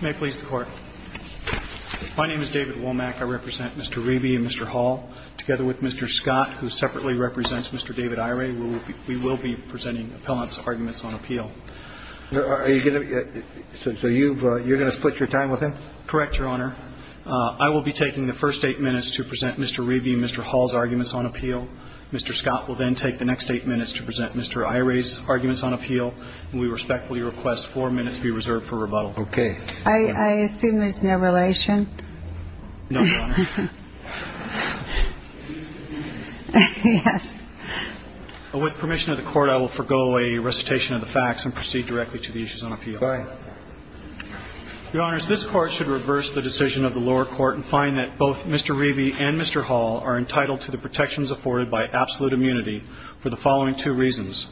May it please the court. My name is David Womack. I represent Mr. Riebe and Mr. Hall. Together with Mr. Scott, who separately represents Mr. David Iray, we will be presenting appellant's arguments on appeal. Are you going to – so you're going to split your time with him? Correct, Your Honor. I will be taking the first eight minutes to present Mr. Riebe and Mr. Hall's arguments on appeal. Mr. Scott will then take the next eight minutes to present Mr. Iray's arguments on appeal, and we respectfully request four minutes be reserved for rebuttal. Okay. I assume there's no relation? No, Your Honor. Yes. With permission of the court, I will forgo a recitation of the facts and proceed directly to the issues on appeal. Go ahead. Your Honors, this Court should reverse the decision of the lower court and find that both Mr. Riebe and Mr. Hall are entitled to the protections afforded by absolute immunity for the following two reasons.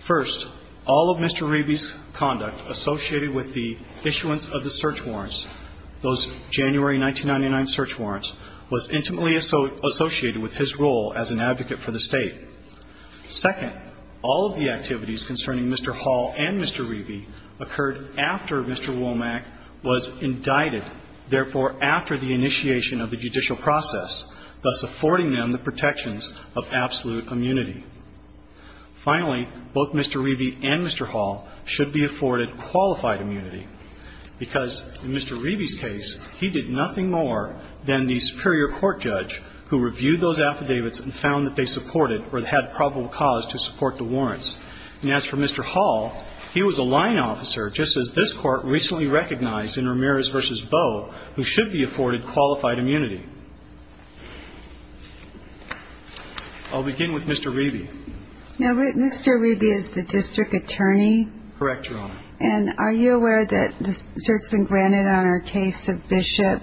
First, all of Mr. Riebe's conduct associated with the issuance of the search warrants, those January 1999 search warrants, was intimately associated with his role as an advocate for the State. Second, all of the activities concerning Mr. Hall and Mr. Riebe occurred after Mr. Womack was indicted, therefore, after the Finally, both Mr. Riebe and Mr. Hall should be afforded qualified immunity, because in Mr. Riebe's case, he did nothing more than the superior court judge who reviewed those affidavits and found that they supported or had probable cause to support the warrants. And as for Mr. Hall, he was a line officer, just as this Court recently recognized in Ramirez v. Bowe, who should be afforded qualified immunity. I'll begin with Mr. Riebe. Now, Mr. Riebe is the district attorney? Correct, Your Honor. And are you aware that the search has been granted on our case of Bishop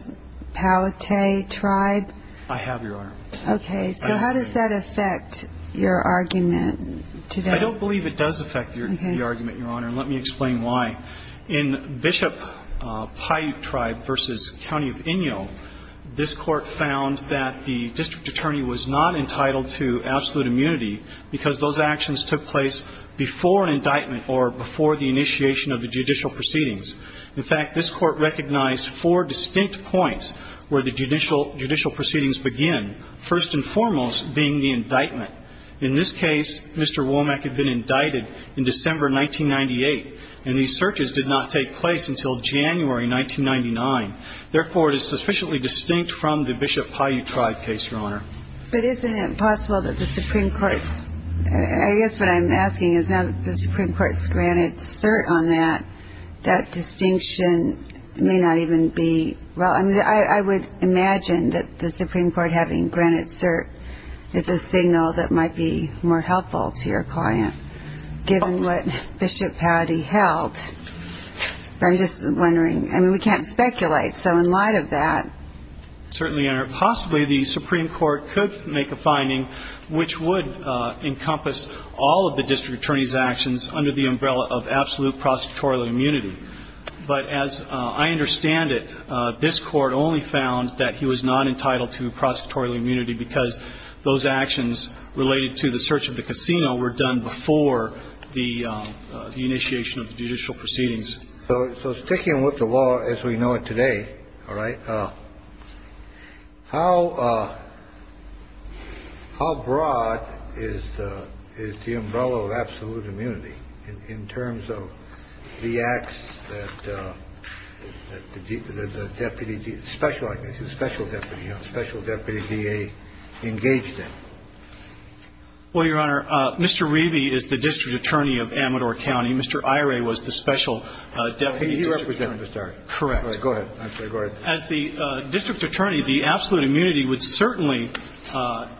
Paiute Tribe? I have, Your Honor. Okay. So how does that affect your argument today? I don't believe it does affect the argument, Your Honor, and let me explain why. In Bishop Paiute Tribe v. County of Inyo, this Court found that the district attorney was not entitled to absolute immunity, because those actions took place before an indictment or before the initiation of the judicial proceedings. In fact, this Court recognized four distinct points where the judicial proceedings begin, first and foremost being the indictment. In this case, Mr. Womack had been indicted in December 1998, and these searches did not take place until January 1999. Therefore, it is sufficiently distinct from the Bishop Paiute Tribe case, Your Honor. But isn't it possible that the Supreme Court's – I guess what I'm asking is now that the Supreme Court's granted cert on that, that distinction may not even be – well, I mean, I would imagine that the Supreme Court having granted cert is a signal that I'm just wondering – I mean, we can't speculate. So in light of that – Certainly, Your Honor. Possibly the Supreme Court could make a finding which would encompass all of the district attorney's actions under the umbrella of absolute prosecutorial immunity. But as I understand it, this Court only found that he was not entitled to prosecutorial immunity because those actions related to the search of the So sticking with the law as we know it today, all right, how – how broad is the umbrella of absolute immunity in terms of the acts that the deputy – the special – I guess he was special deputy, you know, special deputy DA engaged in? Well, Your Honor, Mr. Reavy is the district attorney of Amador County. Mr. Iray was the special deputy district attorney. He represented Mr. Iray. Correct. Go ahead. As the district attorney, the absolute immunity would certainly cover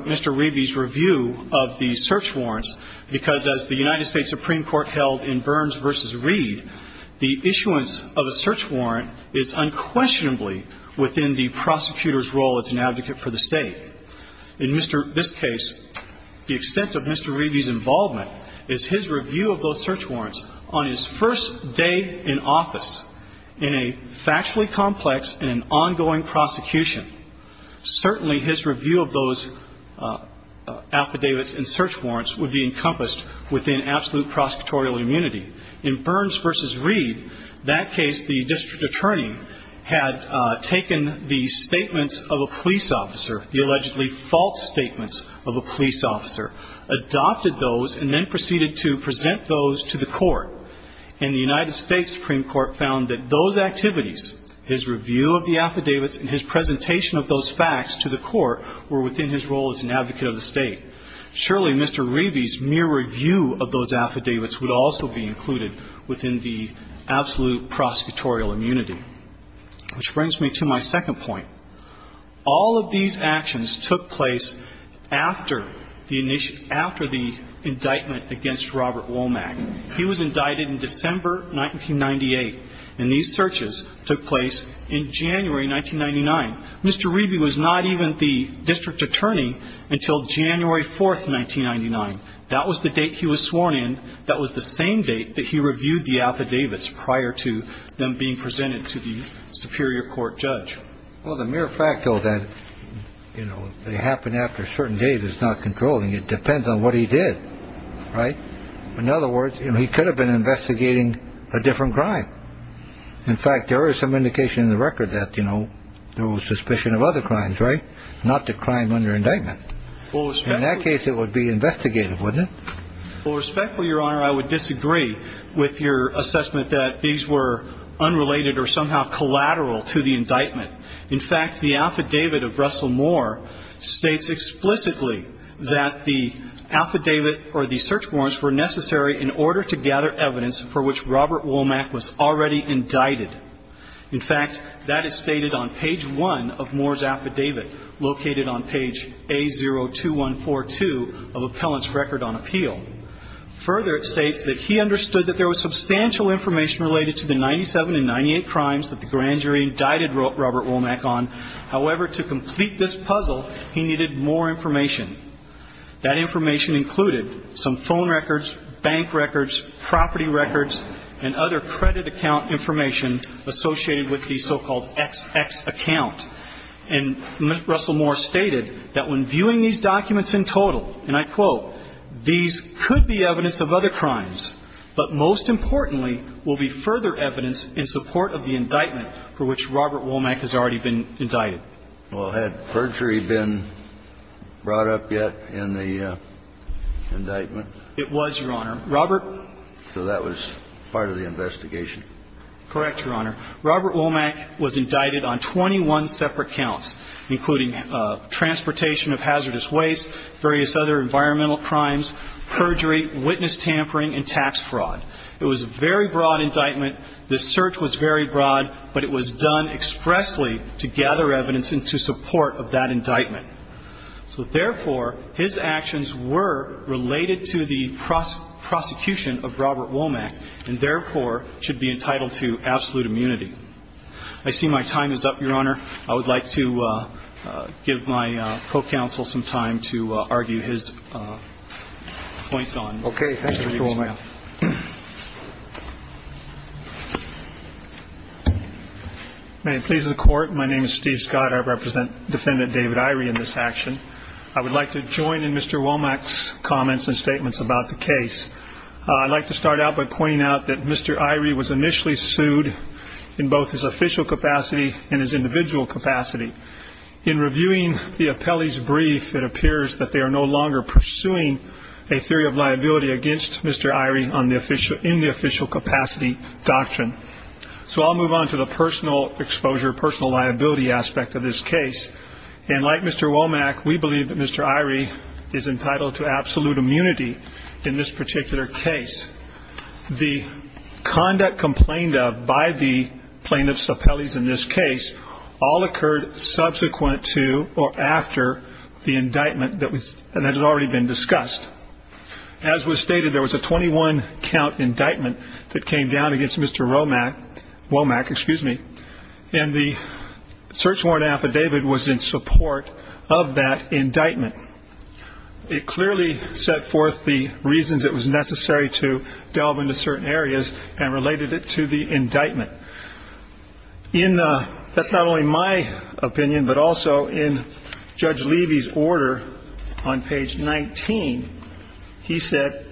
Mr. Reavy's review of the search warrants because as the United States Supreme Court held in Burns v. Reed, the issuance of a search warrant is unquestionably within the prosecutor's role as an advocate for the State. In Mr. – this case, the extent of Mr. Reavy's involvement is his review of those search warrants on his first day in office in a factually complex and an ongoing prosecution. Certainly his review of those affidavits and search warrants would be encompassed within absolute prosecutorial immunity. In Burns v. Reed, that case, the district attorney had taken the statements of a police officer, adopted those, and then proceeded to present those to the court. And the United States Supreme Court found that those activities, his review of the affidavits and his presentation of those facts to the court were within his role as an advocate of the State. Surely Mr. Reavy's mere review of those affidavits would also be included within the absolute prosecutorial immunity. Which brings me to my second point. All of these actions took place after the indictment against Robert Womack. He was indicted in December 1998, and these searches took place in January 1999. Mr. Reavy was not even the district attorney until January 4, 1999. That was the date he was sworn in. That was the same date that he reviewed the affidavits prior to them being presented to the superior court judge. Well, the mere fact that they happened after a certain date is not controlling. It depends on what he did, right? In other words, he could have been investigating a different crime. In fact, there is some indication in the record that there was suspicion of other crimes, right? Not the crime under indictment. In that case, it would be investigative, wouldn't it? Well, respectfully, Your Honor, I would disagree with your assessment that these were unrelated or somehow collateral to the indictment. In fact, the affidavit of Russell Moore states explicitly that the affidavit or the search warrants were necessary in order to gather evidence for which Robert Womack was already indicted. In fact, that is stated on page 1 of Moore's affidavit, located on page A02142 of Appellant's Record on Appeal. Further, it states that he understood that there was substantial information related to the 97 and 98 crimes that the grand jury indicted Robert Womack on. However, to complete this puzzle, he needed more information. That information included some phone records, bank records, property records, and other credit account information associated with the so-called XX account. And Russell Moore stated that when viewing these documents in total, and I quote, these could be evidence of other crimes, but most importantly, will be further evidence in support of the indictment for which Robert Womack has already been indicted. Well, had perjury been brought up yet in the indictment? It was, Your Honor. Robert ---- So that was part of the investigation? Correct, Your Honor. Robert Womack was indicted on 21 separate counts, including transportation of hazardous waste, various other environmental crimes, perjury, witness tampering, and tax fraud. It was a very broad indictment. The search was very broad, but it was done expressly to gather evidence into support of that indictment. So therefore, his actions were related to the prosecution of Robert Womack, and therefore, should be entitled to absolute immunity. I see my time is up, Your Honor. I would like to give my co-counsel some time to argue his points on Mr. Womack. Okay. Thank you, Mr. Womack. May it please the Court, my name is Steve Scott. I represent Defendant David Irey in this action. I would like to join in Mr. Womack's comments and statements about the case. I'd like to start out by pointing out that Mr. Irey was initially sued in both his official capacity and his individual capacity. In reviewing the appellee's brief, it appears that they are no longer pursuing a theory of liability against Mr. Irey in the official capacity doctrine. So I'll move on to the personal exposure, personal liability aspect of this case. And like Mr. Womack, we believe that Mr. Irey is entitled to absolute immunity in this particular case. The conduct complained of by the plaintiffs appellees in this case all occurred subsequent to or after the indictment that had already been discussed. As was stated, there was a 21-count indictment that came down against Mr. Womack, and the search warrant affidavit was in support of that indictment. It clearly set forth the reasons it was necessary to delve into certain areas and related it to the indictment. That's not only my opinion, but also in Judge Levy's order on page 19, he said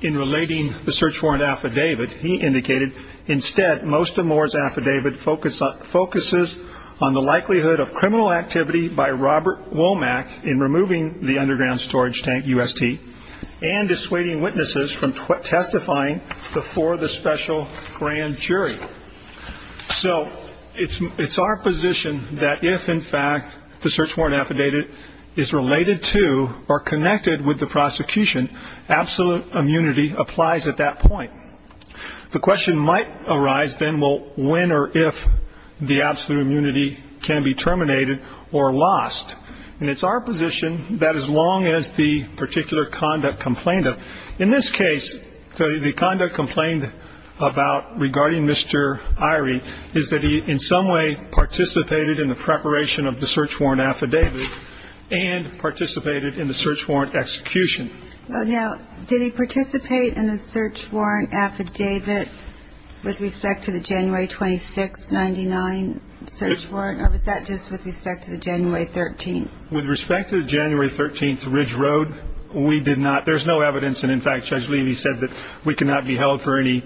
in relating the search warrant affidavit, he indicated, instead most of Moore's affidavit focuses on the likelihood of criminal activity by Robert Womack in removing the underground storage tank, UST, and dissuading witnesses from testifying before the special grand jury. So it's our position that if, in fact, the search warrant affidavit is related to or connected with the prosecution, absolute immunity applies at that point. The question might arise then, well, when or if the absolute immunity can be terminated or lost, and it's our position that as long as the particular conduct complained of. In this case, the conduct complained about regarding Mr. Irie is that he in some way participated in the preparation of the search warrant affidavit and participated in the search warrant execution. Well, now, did he participate in the search warrant affidavit with respect to the January 26, 99 search warrant, or was that just with respect to the January 13th? With respect to the January 13th Ridge Road, we did not. There's no evidence. And, in fact, Judge Levy said that we cannot be held for any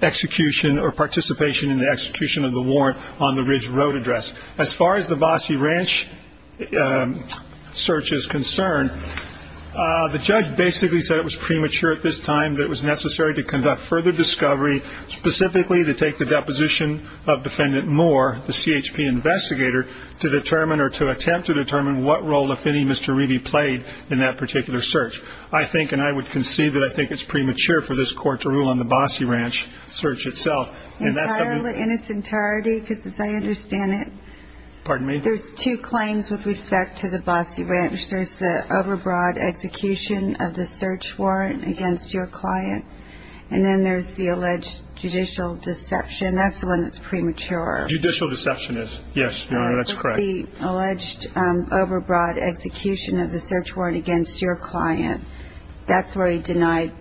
execution or participation in the execution of the warrant on the Ridge Road address. As far as the Bossie Ranch search is concerned, the judge basically said it was premature at this time that it was necessary to conduct further discovery, specifically to take the deposition of Defendant Moore, the CHP investigator, to determine or to attempt to determine what role affinity Mr. Irie played in that particular search. I think, and I would concede that I think it's premature for this Court to rule on the Bossie Ranch search itself. In its entirety, because as I understand it, there's two claims with respect to the Bossie Ranch. There's the overbroad execution of the search warrant against your client, and then there's the alleged judicial deception. That's the one that's premature. Judicial deception is, yes, Your Honor, that's correct. The alleged overbroad execution of the search warrant against your client, that's where he denied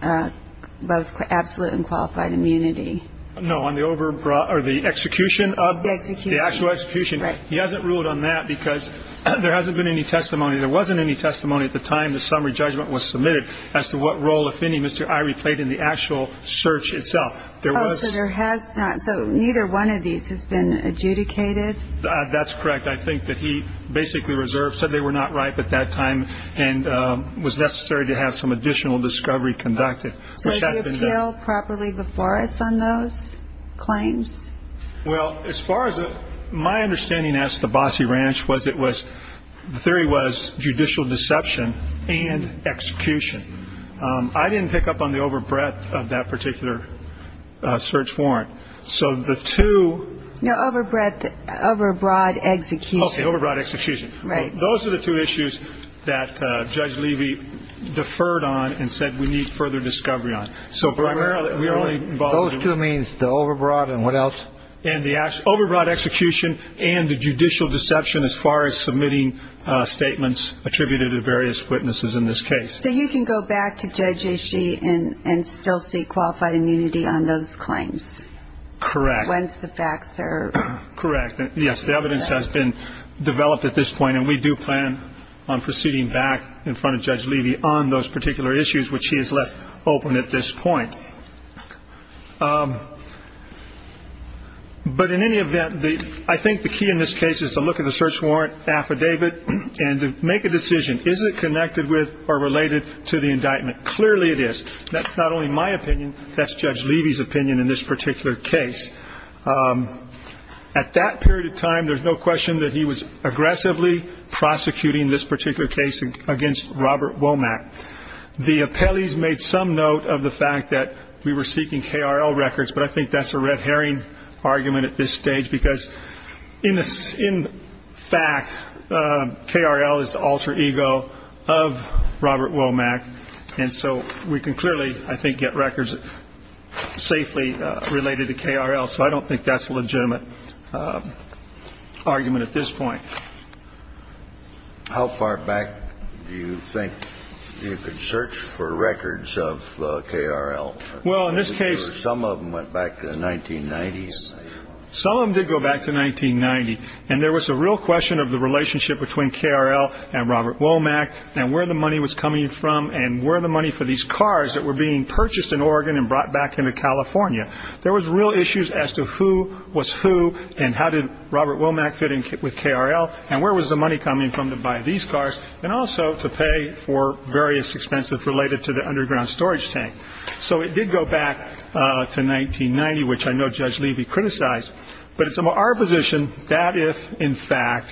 both absolute and qualified immunity. No, on the execution of the actual execution. He hasn't ruled on that because there hasn't been any testimony. There wasn't any testimony at the time the summary judgment was submitted as to what role affinity Mr. Irie played in the actual search itself. So neither one of these has been adjudicated? That's correct. I think that he basically reserved, said they were not ripe at that time and was necessary to have some additional discovery conducted. Did he appeal properly before us on those claims? Well, as far as my understanding as to Bossie Ranch was it was, the theory was judicial deception and execution. I didn't pick up on the overbreadth of that particular search warrant. No, overbroad execution. Okay, overbroad execution. Right. Those are the two issues that Judge Levy deferred on and said we need further discovery on. Those two means the overbroad and what else? And the overbroad execution and the judicial deception as far as submitting statements attributed to various witnesses in this case. So you can go back to Judge Ishii and still see qualified immunity on those claims? Correct. Once the facts are? Correct. Yes, the evidence has been developed at this point, and we do plan on proceeding back in front of Judge Levy on those particular issues, which he has left open at this point. But in any event, I think the key in this case is to look at the search warrant affidavit and to make a decision, is it connected with or related to the indictment? Clearly it is. That's not only my opinion, that's Judge Levy's opinion in this particular case. At that period of time, there's no question that he was aggressively prosecuting this particular case against Robert Womack. The appellees made some note of the fact that we were seeking KRL records, but I think that's a red herring argument at this stage because, in fact, KRL is the alter ego of Robert Womack, and so we can clearly, I think, get records safely related to KRL. So I don't think that's a legitimate argument at this point. How far back do you think you could search for records of KRL? Well, in this case. Some of them went back to the 1990s. Some of them did go back to 1990, and there was a real question of the relationship between KRL and Robert Womack and where the money was coming from and where the money for these cars that were being purchased in Oregon and brought back into California. There was real issues as to who was who and how did Robert Womack fit in with KRL and where was the money coming from to buy these cars and also to pay for various expenses related to the underground storage tank. So it did go back to 1990, which I know Judge Levy criticized, but it's our position that if, in fact,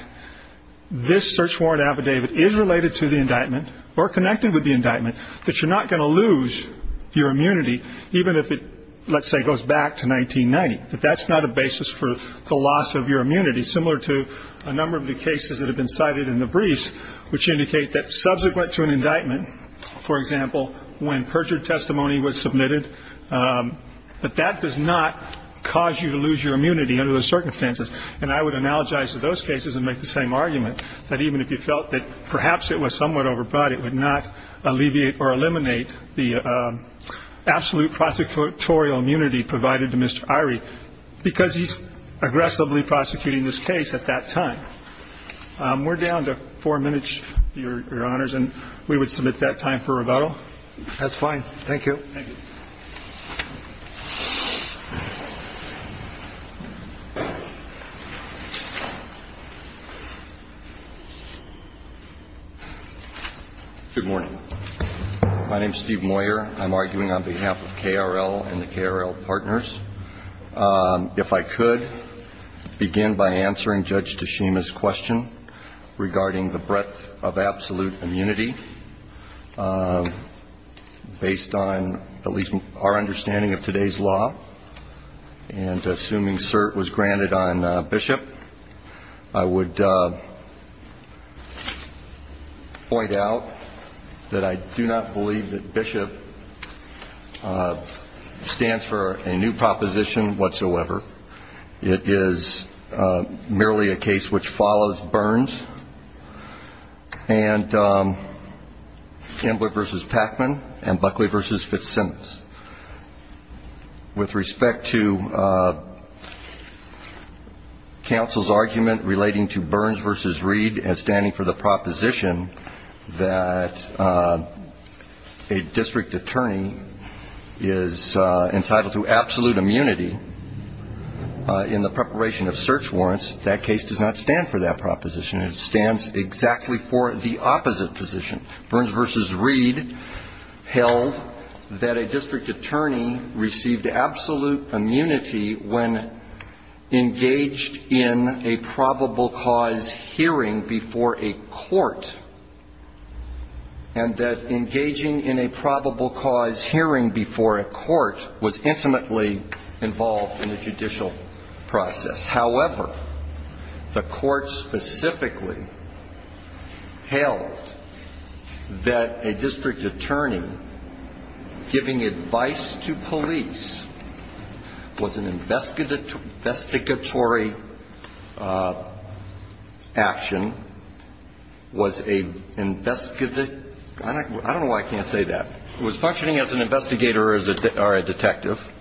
this search warrant affidavit is related to the indictment or connected with the indictment, that you're not going to lose your immunity, even if it, let's say, goes back to 1990, that that's not a basis for the loss of your immunity, similar to a number of the cases that have been cited in the briefs, which indicate that subsequent to an indictment, for example, when perjured testimony was submitted, that that does not cause you to lose your immunity under those circumstances. And I would analogize to those cases and make the same argument, that even if you felt that perhaps it was somewhat overbought, it would not alleviate or eliminate the absolute prosecutorial immunity provided to Mr. Irie because he's aggressively prosecuting this case at that time. We're down to four minutes, Your Honors, and we would submit that time for rebuttal. That's fine. Thank you. Thank you. Good morning. My name is Steve Moyer. I'm arguing on behalf of KRL and the KRL partners. If I could begin by answering Judge Teshima's question regarding the breadth of absolute immunity, based on at least our understanding of today's law, and assuming cert was granted on Bishop, I would point out that I do not believe that Bishop stands for a new proposition whatsoever. It is merely a case which follows Burns and Campbell v. Packman and Buckley v. Fitzsimmons. With respect to counsel's argument relating to Burns v. Reed as standing for the proposition that a district attorney is entitled to absolute immunity in the preparation of search warrants, that case does not stand for that proposition. It stands exactly for the opposite position. Burns v. Reed held that a district attorney received absolute immunity when engaged in a probable cause hearing before a court, and that engaging in a probable cause hearing before a court was intimately involved in the judicial process. However, the court specifically held that a district attorney giving advice to police was an investigatory action, was a, I don't know why I can't say that, was functioning as an investigator or a detective,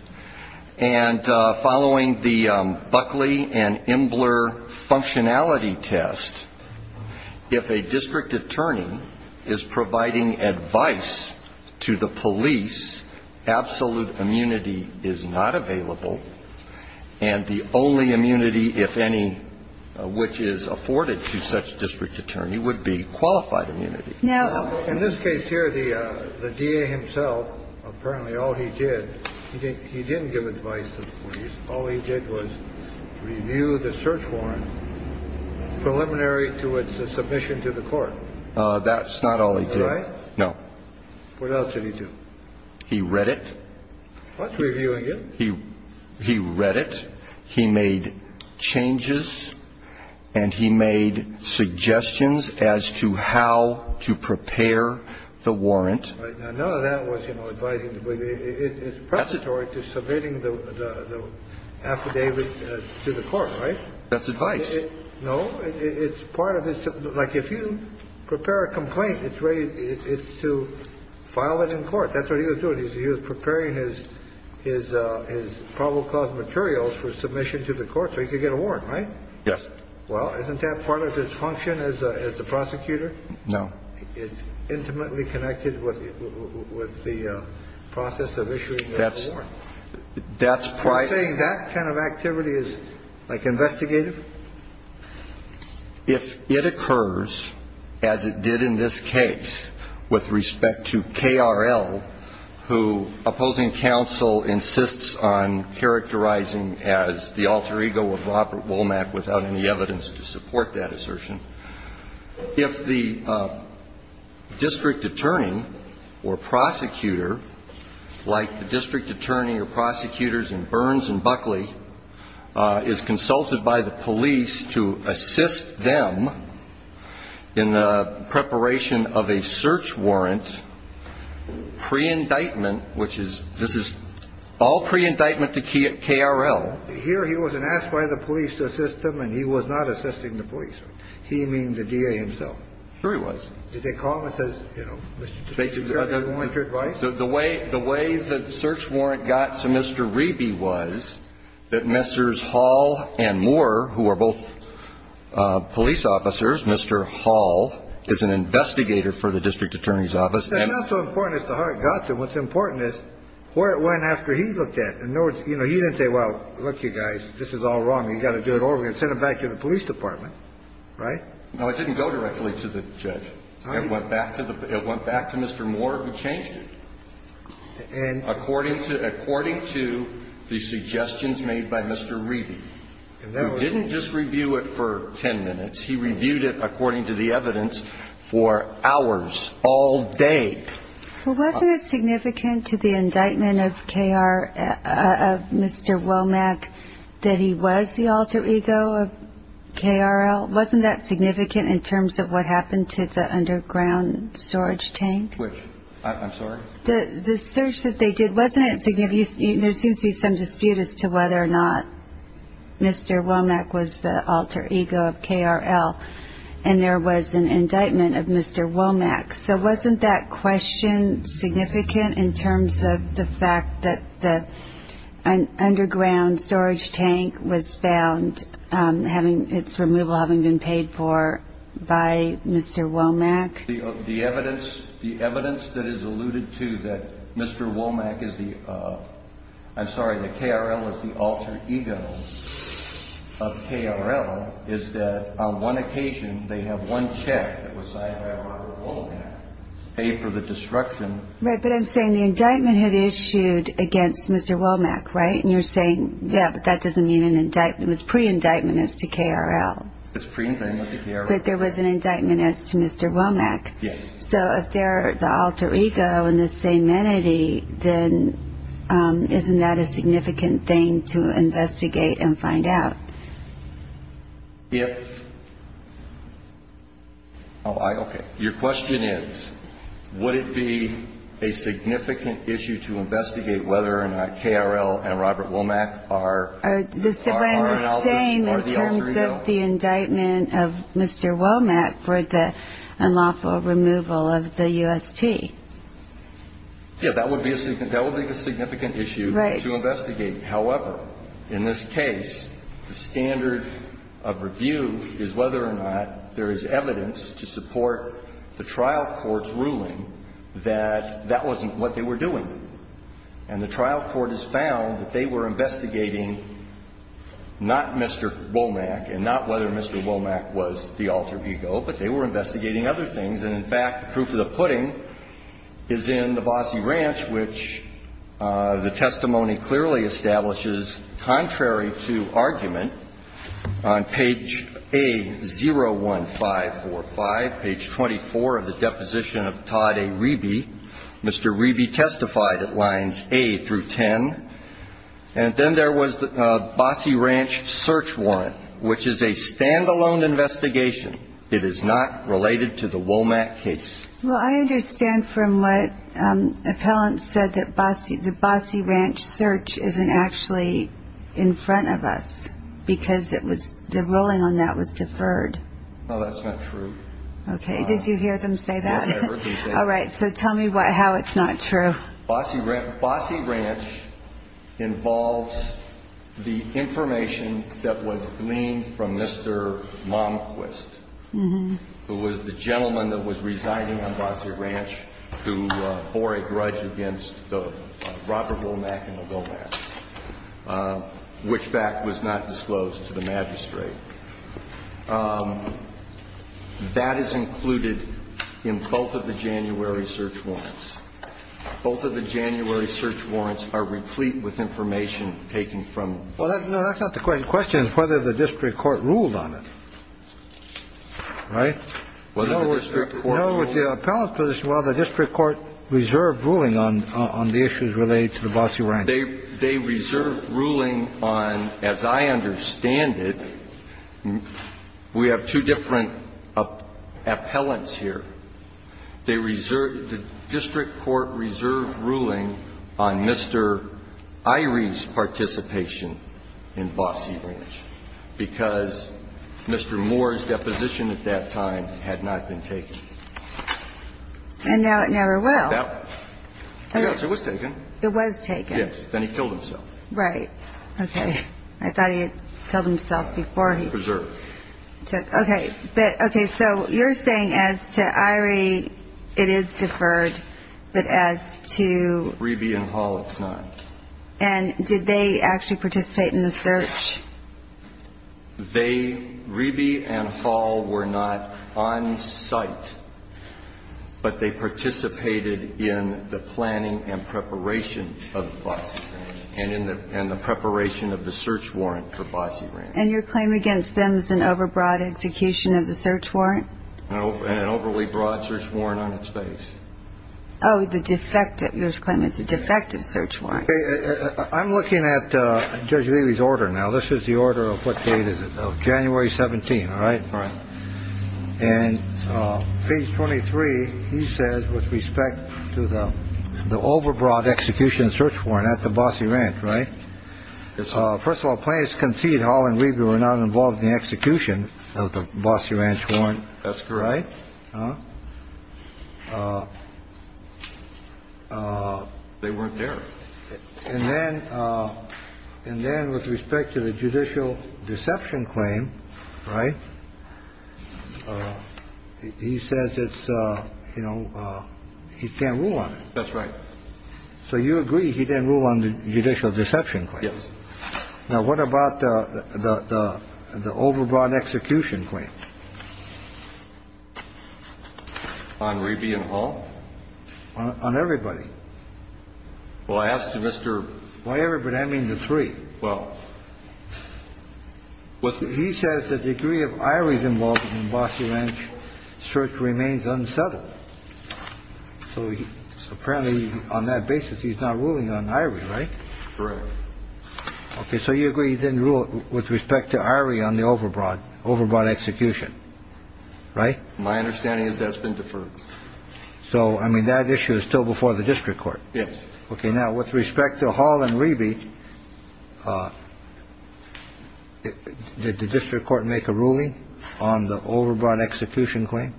and following the Buckley and Imbler functionality test, if a district attorney is providing advice to the police, absolute immunity is not available, and the only immunity, if any, which is afforded to such district attorney would be qualified immunity. In this case here, the DA himself, apparently all he did, he didn't give advice to the police. All he did was review the search warrant preliminary to its submission to the court. That's not all he did. Right? No. What else did he do? He read it. What's reviewing it? He read it. He made changes, and he made suggestions as to how to prepare the warrant. Right. Now, none of that was, you know, advising the police. It's preparatory to submitting the affidavit to the court, right? That's advice. No. It's part of this. Like, if you prepare a complaint, it's to file it in court. That's what he was doing. He was preparing his probable cause materials for submission to the court so he could get a warrant, right? Yes. Well, isn't that part of his function as the prosecutor? No. It's intimately connected with the process of issuing the warrant. That's prior. You're saying that kind of activity is, like, investigative? If it occurs, as it did in this case with respect to KRL, who opposing counsel insists on characterizing as the alter ego of Robert Womack without any evidence to support that assertion, if the district attorney or prosecutor, like the district attorney or prosecutors in Burns and Buckley, is consulted by the police to assist them in the preparation of a search warrant, pre-indictment, which is, this is all pre-indictment to KRL. Here he wasn't asked by the police to assist them, and he was not assisting the police. He means the D.A. himself. Sure he was. Did they call him and say, you know, did you want your advice? The way the search warrant got to Mr. Riebe was that Mr. Hall and Moore, who are both police officers, Mr. Hall is an investigator for the district attorney's office. It's not so important as to how it got there. What's important is where it went after he looked at it. In other words, you know, he didn't say, well, look, you guys, this is all wrong. You've got to do it over again. I'm going to send it back to the police department. Right? No, it didn't go directly to the judge. It went back to the Mr. Moore, who changed it. And according to the suggestions made by Mr. Riebe, who didn't just review it for ten minutes. He reviewed it according to the evidence for hours, all day. Well, wasn't it significant to the indictment of Mr. Womack that he was the alter ego of KRL? Wasn't that significant in terms of what happened to the underground storage tank? Which? I'm sorry? The search that they did, wasn't it significant? There seems to be some dispute as to whether or not Mr. Womack was the alter ego of KRL. And there was an indictment of Mr. Womack. So wasn't that question significant in terms of the fact that the underground storage tank was found, having its removal having been paid for by Mr. Womack? The evidence that is alluded to that Mr. Womack is the, I'm sorry, that KRL is the alter ego of KRL, is that on one occasion they have one check that was signed by Robert Womack, paid for the destruction. Right, but I'm saying the indictment had issued against Mr. Womack, right? And you're saying, yeah, but that doesn't mean an indictment. It was pre-indictment as to KRL. It was pre-indictment as to KRL. But there was an indictment as to Mr. Womack. Yes. So if they're the alter ego and the same entity, then isn't that a significant thing to investigate and find out? If, oh, I, okay. Your question is, would it be a significant issue to investigate whether or not KRL and Robert Womack are the alter ego? Mr. Womack for the unlawful removal of the UST. Yeah, that would be a significant issue to investigate. However, in this case, the standard of review is whether or not there is evidence to support the trial court's ruling that that wasn't what they were doing. And the trial court has found that they were investigating not Mr. Womack and not whether Mr. Womack was the alter ego, but they were investigating other things. And, in fact, the proof of the pudding is in the Bossie Ranch, which the testimony clearly establishes, contrary to argument, on page A01545, page 24 of the deposition of Todd A. Reby, Mr. Reby testified at lines A through 10. And then there was the Bossie Ranch search warrant, which is a stand-alone investigation. It is not related to the Womack case. Well, I understand from what appellants said that the Bossie Ranch search isn't actually in front of us because the ruling on that was deferred. No, that's not true. Okay. Did you hear them say that? Yes, I heard them say that. All right. So tell me how it's not true. Bossie Ranch involves the information that was gleaned from Mr. Momquist, who was the gentleman that was residing on Bossie Ranch, who bore a grudge against the Robert Womack and the Womack, which fact was not disclosed to the magistrate. That is included in both of the January search warrants. Both of the January search warrants are replete with information taken from them. Well, no, that's not the question. The question is whether the district court ruled on it. Right? Whether the district court ruled on it. In other words, the appellant's position is, well, the district court reserved ruling on the issues related to the Bossie Ranch. They reserved ruling on, as I understand it, we have two different appellants here. They reserved the district court reserved ruling on Mr. Irie's participation in Bossie Ranch because Mr. Moore's deposition at that time had not been taken. And now it never will. Yes, it was taken. It was taken. Then he killed himself. Right. Okay. I thought he had killed himself before he took. Preserved. Okay. But, okay. So you're saying as to Irie, it is deferred, but as to? Reby and Hall, it's not. And did they actually participate in the search? They, Reby and Hall, were not on site. But they participated in the planning and preparation of Bossie Ranch and in the preparation of the search warrant for Bossie Ranch. And your claim against them is an overbroad execution of the search warrant? An overly broad search warrant on its face. Oh, the defective. Your claim is a defective search warrant. I'm looking at Judge Levy's order now. This is the order of what date is it, January 17th, all right? Right. And page 23, he says, with respect to the the overbroad execution search warrant at the Bossie Ranch. Right. First of all, plans concede Hall and Reby were not involved in the execution of the Bossie Ranch warrant. That's correct. They weren't there. And then and then with respect to the judicial deception claim. Right. He says it's, you know, he can't rule on it. That's right. So you agree he didn't rule on the judicial deception. Yes. Now, what about the the the overbroad execution claim? On Reby and Hall? On everybody. Well, I asked you, Mr. Why everybody? I mean, the three. Well, he says the degree of Irie's involvement in Bossie Ranch search remains unsettled. So apparently on that basis, he's not ruling on Irie, right? Correct. Okay. So you agree he didn't rule with respect to Irie on the overbroad, overbroad execution. Right. My understanding is that's been deferred. So I mean, that issue is still before the district court. Yes. Okay. Now, with respect to Hall and Reby, did the district court make a ruling on the overbroad execution claim?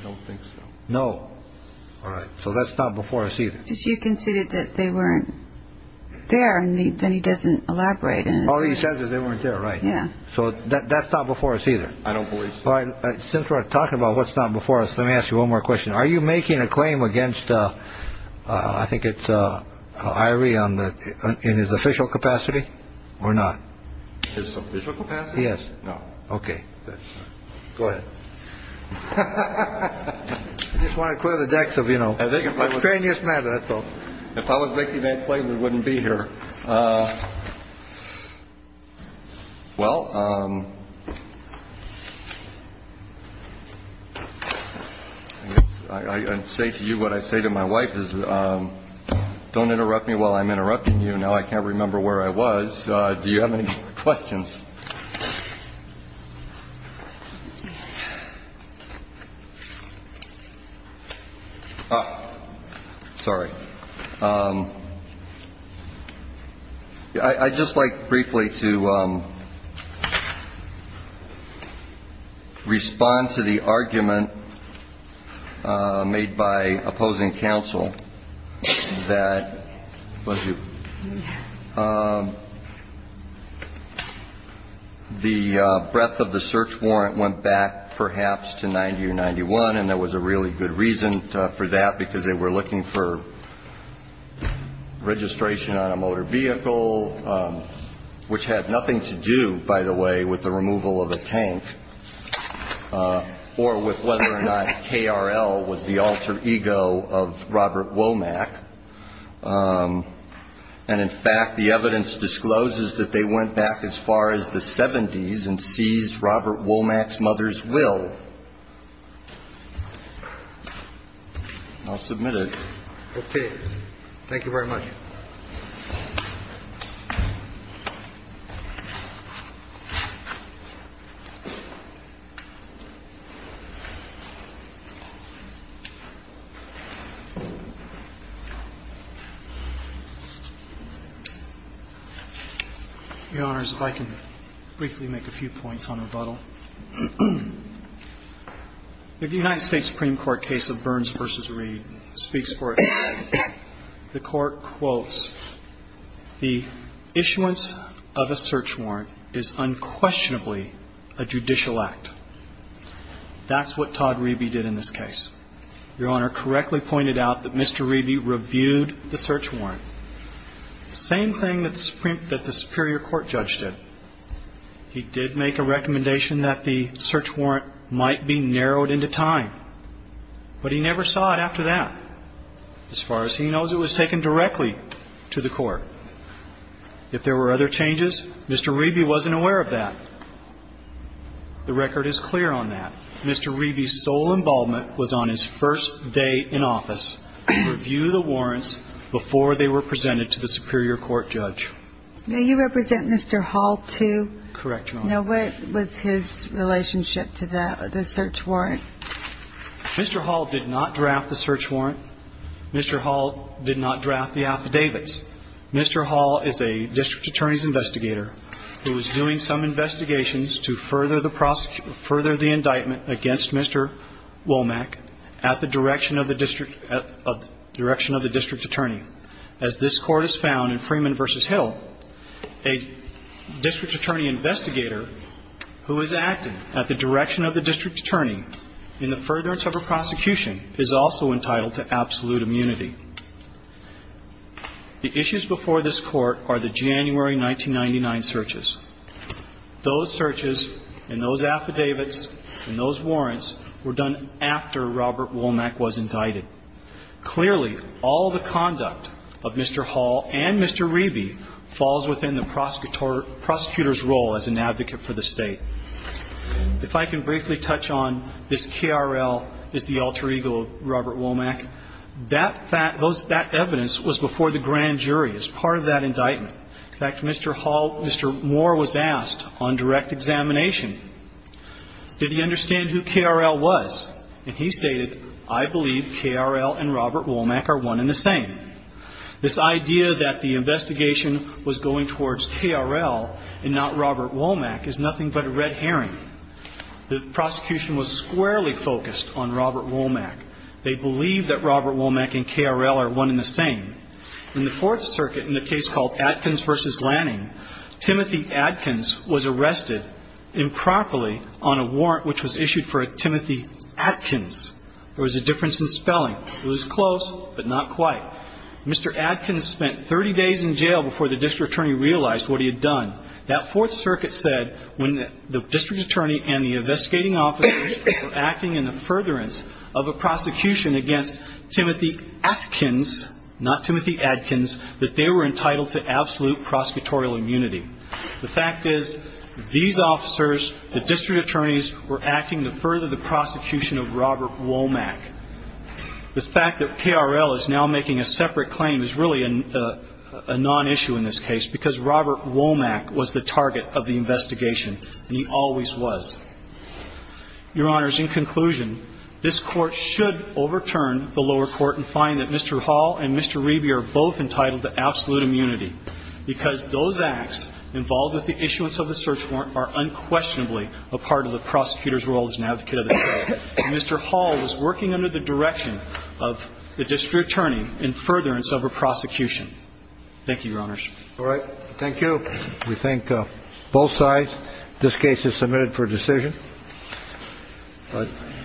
I don't think so. No. All right. So that's not before us either. You conceded that they weren't there. And then he doesn't elaborate. All he says is they weren't there. Right. Yeah. So that's not before us either. I don't believe since we're talking about what's not before us. Let me ask you one more question. Are you making a claim against. I think it's Irie on the in his official capacity or not. It's official. Yes. No. Okay. Go ahead. I just want to clear the decks of, you know, I think if I was paying this matter, that's all. If I was making that claim, we wouldn't be here. Well, I say to you, what I say to my wife is don't interrupt me while I'm interrupting you. I can't remember where I was. Do you have any questions? Oh, sorry. I just like briefly to respond to the argument made by opposing counsel that. The breadth of the search warrant went back perhaps to ninety or ninety one. And there was a really good reason for that, because they were looking for registration on a motor vehicle, which had nothing to do, by the way, with the removal of a tank or with whether or not KRL was the alter ego of Robert Womack. And in fact, the evidence discloses that they went back as far as the 70s and seized Robert Womack's mother's will. I'll submit it. Okay. Thank you very much. Your Honors, if I can briefly make a few points on rebuttal. The United States Supreme Court case of Burns v. Reed speaks for itself. The court quotes the issuance of a search warrant is unquestionably a judicial act. That's what Todd Reby did in this case. Your Honor correctly pointed out that Mr. Reby reviewed the search warrant. Same thing that the Supreme that the superior court judge did. He did make a recommendation that the search warrant might be narrowed into time, but he never saw it after that. As far as he knows, it was taken directly to the court. If there were other changes, Mr. Reby wasn't aware of that. The record is clear on that. Mr. Reby's sole involvement was on his first day in office to review the warrants before they were presented to the superior court judge. Now, you represent Mr. Hall, too. Correct, Your Honor. Now, what was his relationship to that, the search warrant? Mr. Hall did not draft the search warrant. Mr. Hall did not draft the affidavits. Mr. Hall is a district attorney's investigator who is doing some investigations to further the indictment against Mr. Womack at the direction of the district attorney. As this Court has found in Freeman v. Hill, a district attorney investigator who is acting at the direction of the district attorney in the furtherance of a prosecution is also entitled to absolute immunity. The issues before this Court are the January 1999 searches. Those searches and those affidavits and those warrants were done after Robert Womack was indicted. Clearly, all the conduct of Mr. Hall and Mr. Reby falls within the prosecutor's role as an advocate for the State. If I can briefly touch on this K.R.L. is the alter ego of Robert Womack, that evidence was before the grand jury as part of that indictment. In fact, Mr. Hall, Mr. Moore was asked on direct examination, did he understand who K.R.L. was? And he stated, I believe K.R.L. and Robert Womack are one and the same. This idea that the investigation was going towards K.R.L. and not Robert Womack is nothing but a red herring. The prosecution was squarely focused on Robert Womack. They believe that Robert Womack and K.R.L. are one and the same. In the Fourth Circuit, in a case called Atkins v. Lanning, Timothy Atkins was arrested improperly on a warrant which was issued for a Timothy Atkins. There was a difference in spelling. It was close, but not quite. Mr. Atkins spent 30 days in jail before the district attorney realized what he had done. That Fourth Circuit said when the district attorney and the investigating officers were acting in the furtherance of a prosecution against Timothy Atkins, not Timothy Atkins, that they were entitled to absolute prosecutorial immunity. The fact is, these officers, the district attorneys, were acting to further the prosecution of Robert Womack. The fact that K.R.L. is now making a separate claim is really a non-issue in this case, because Robert Womack was the target of the investigation, and he always was. Your Honors, in conclusion, this Court should overturn the lower court and find that Mr. Hall and Mr. Reby are both entitled to absolute immunity, because those acts involved with the issuance of the search warrant are unquestionably a part of the prosecutor's role as an advocate of the court. Mr. Hall was working under the direction of the district attorney in furtherance of a prosecution. Thank you, Your Honors. All right. Thank you. We thank both sides. This case is submitted for decision.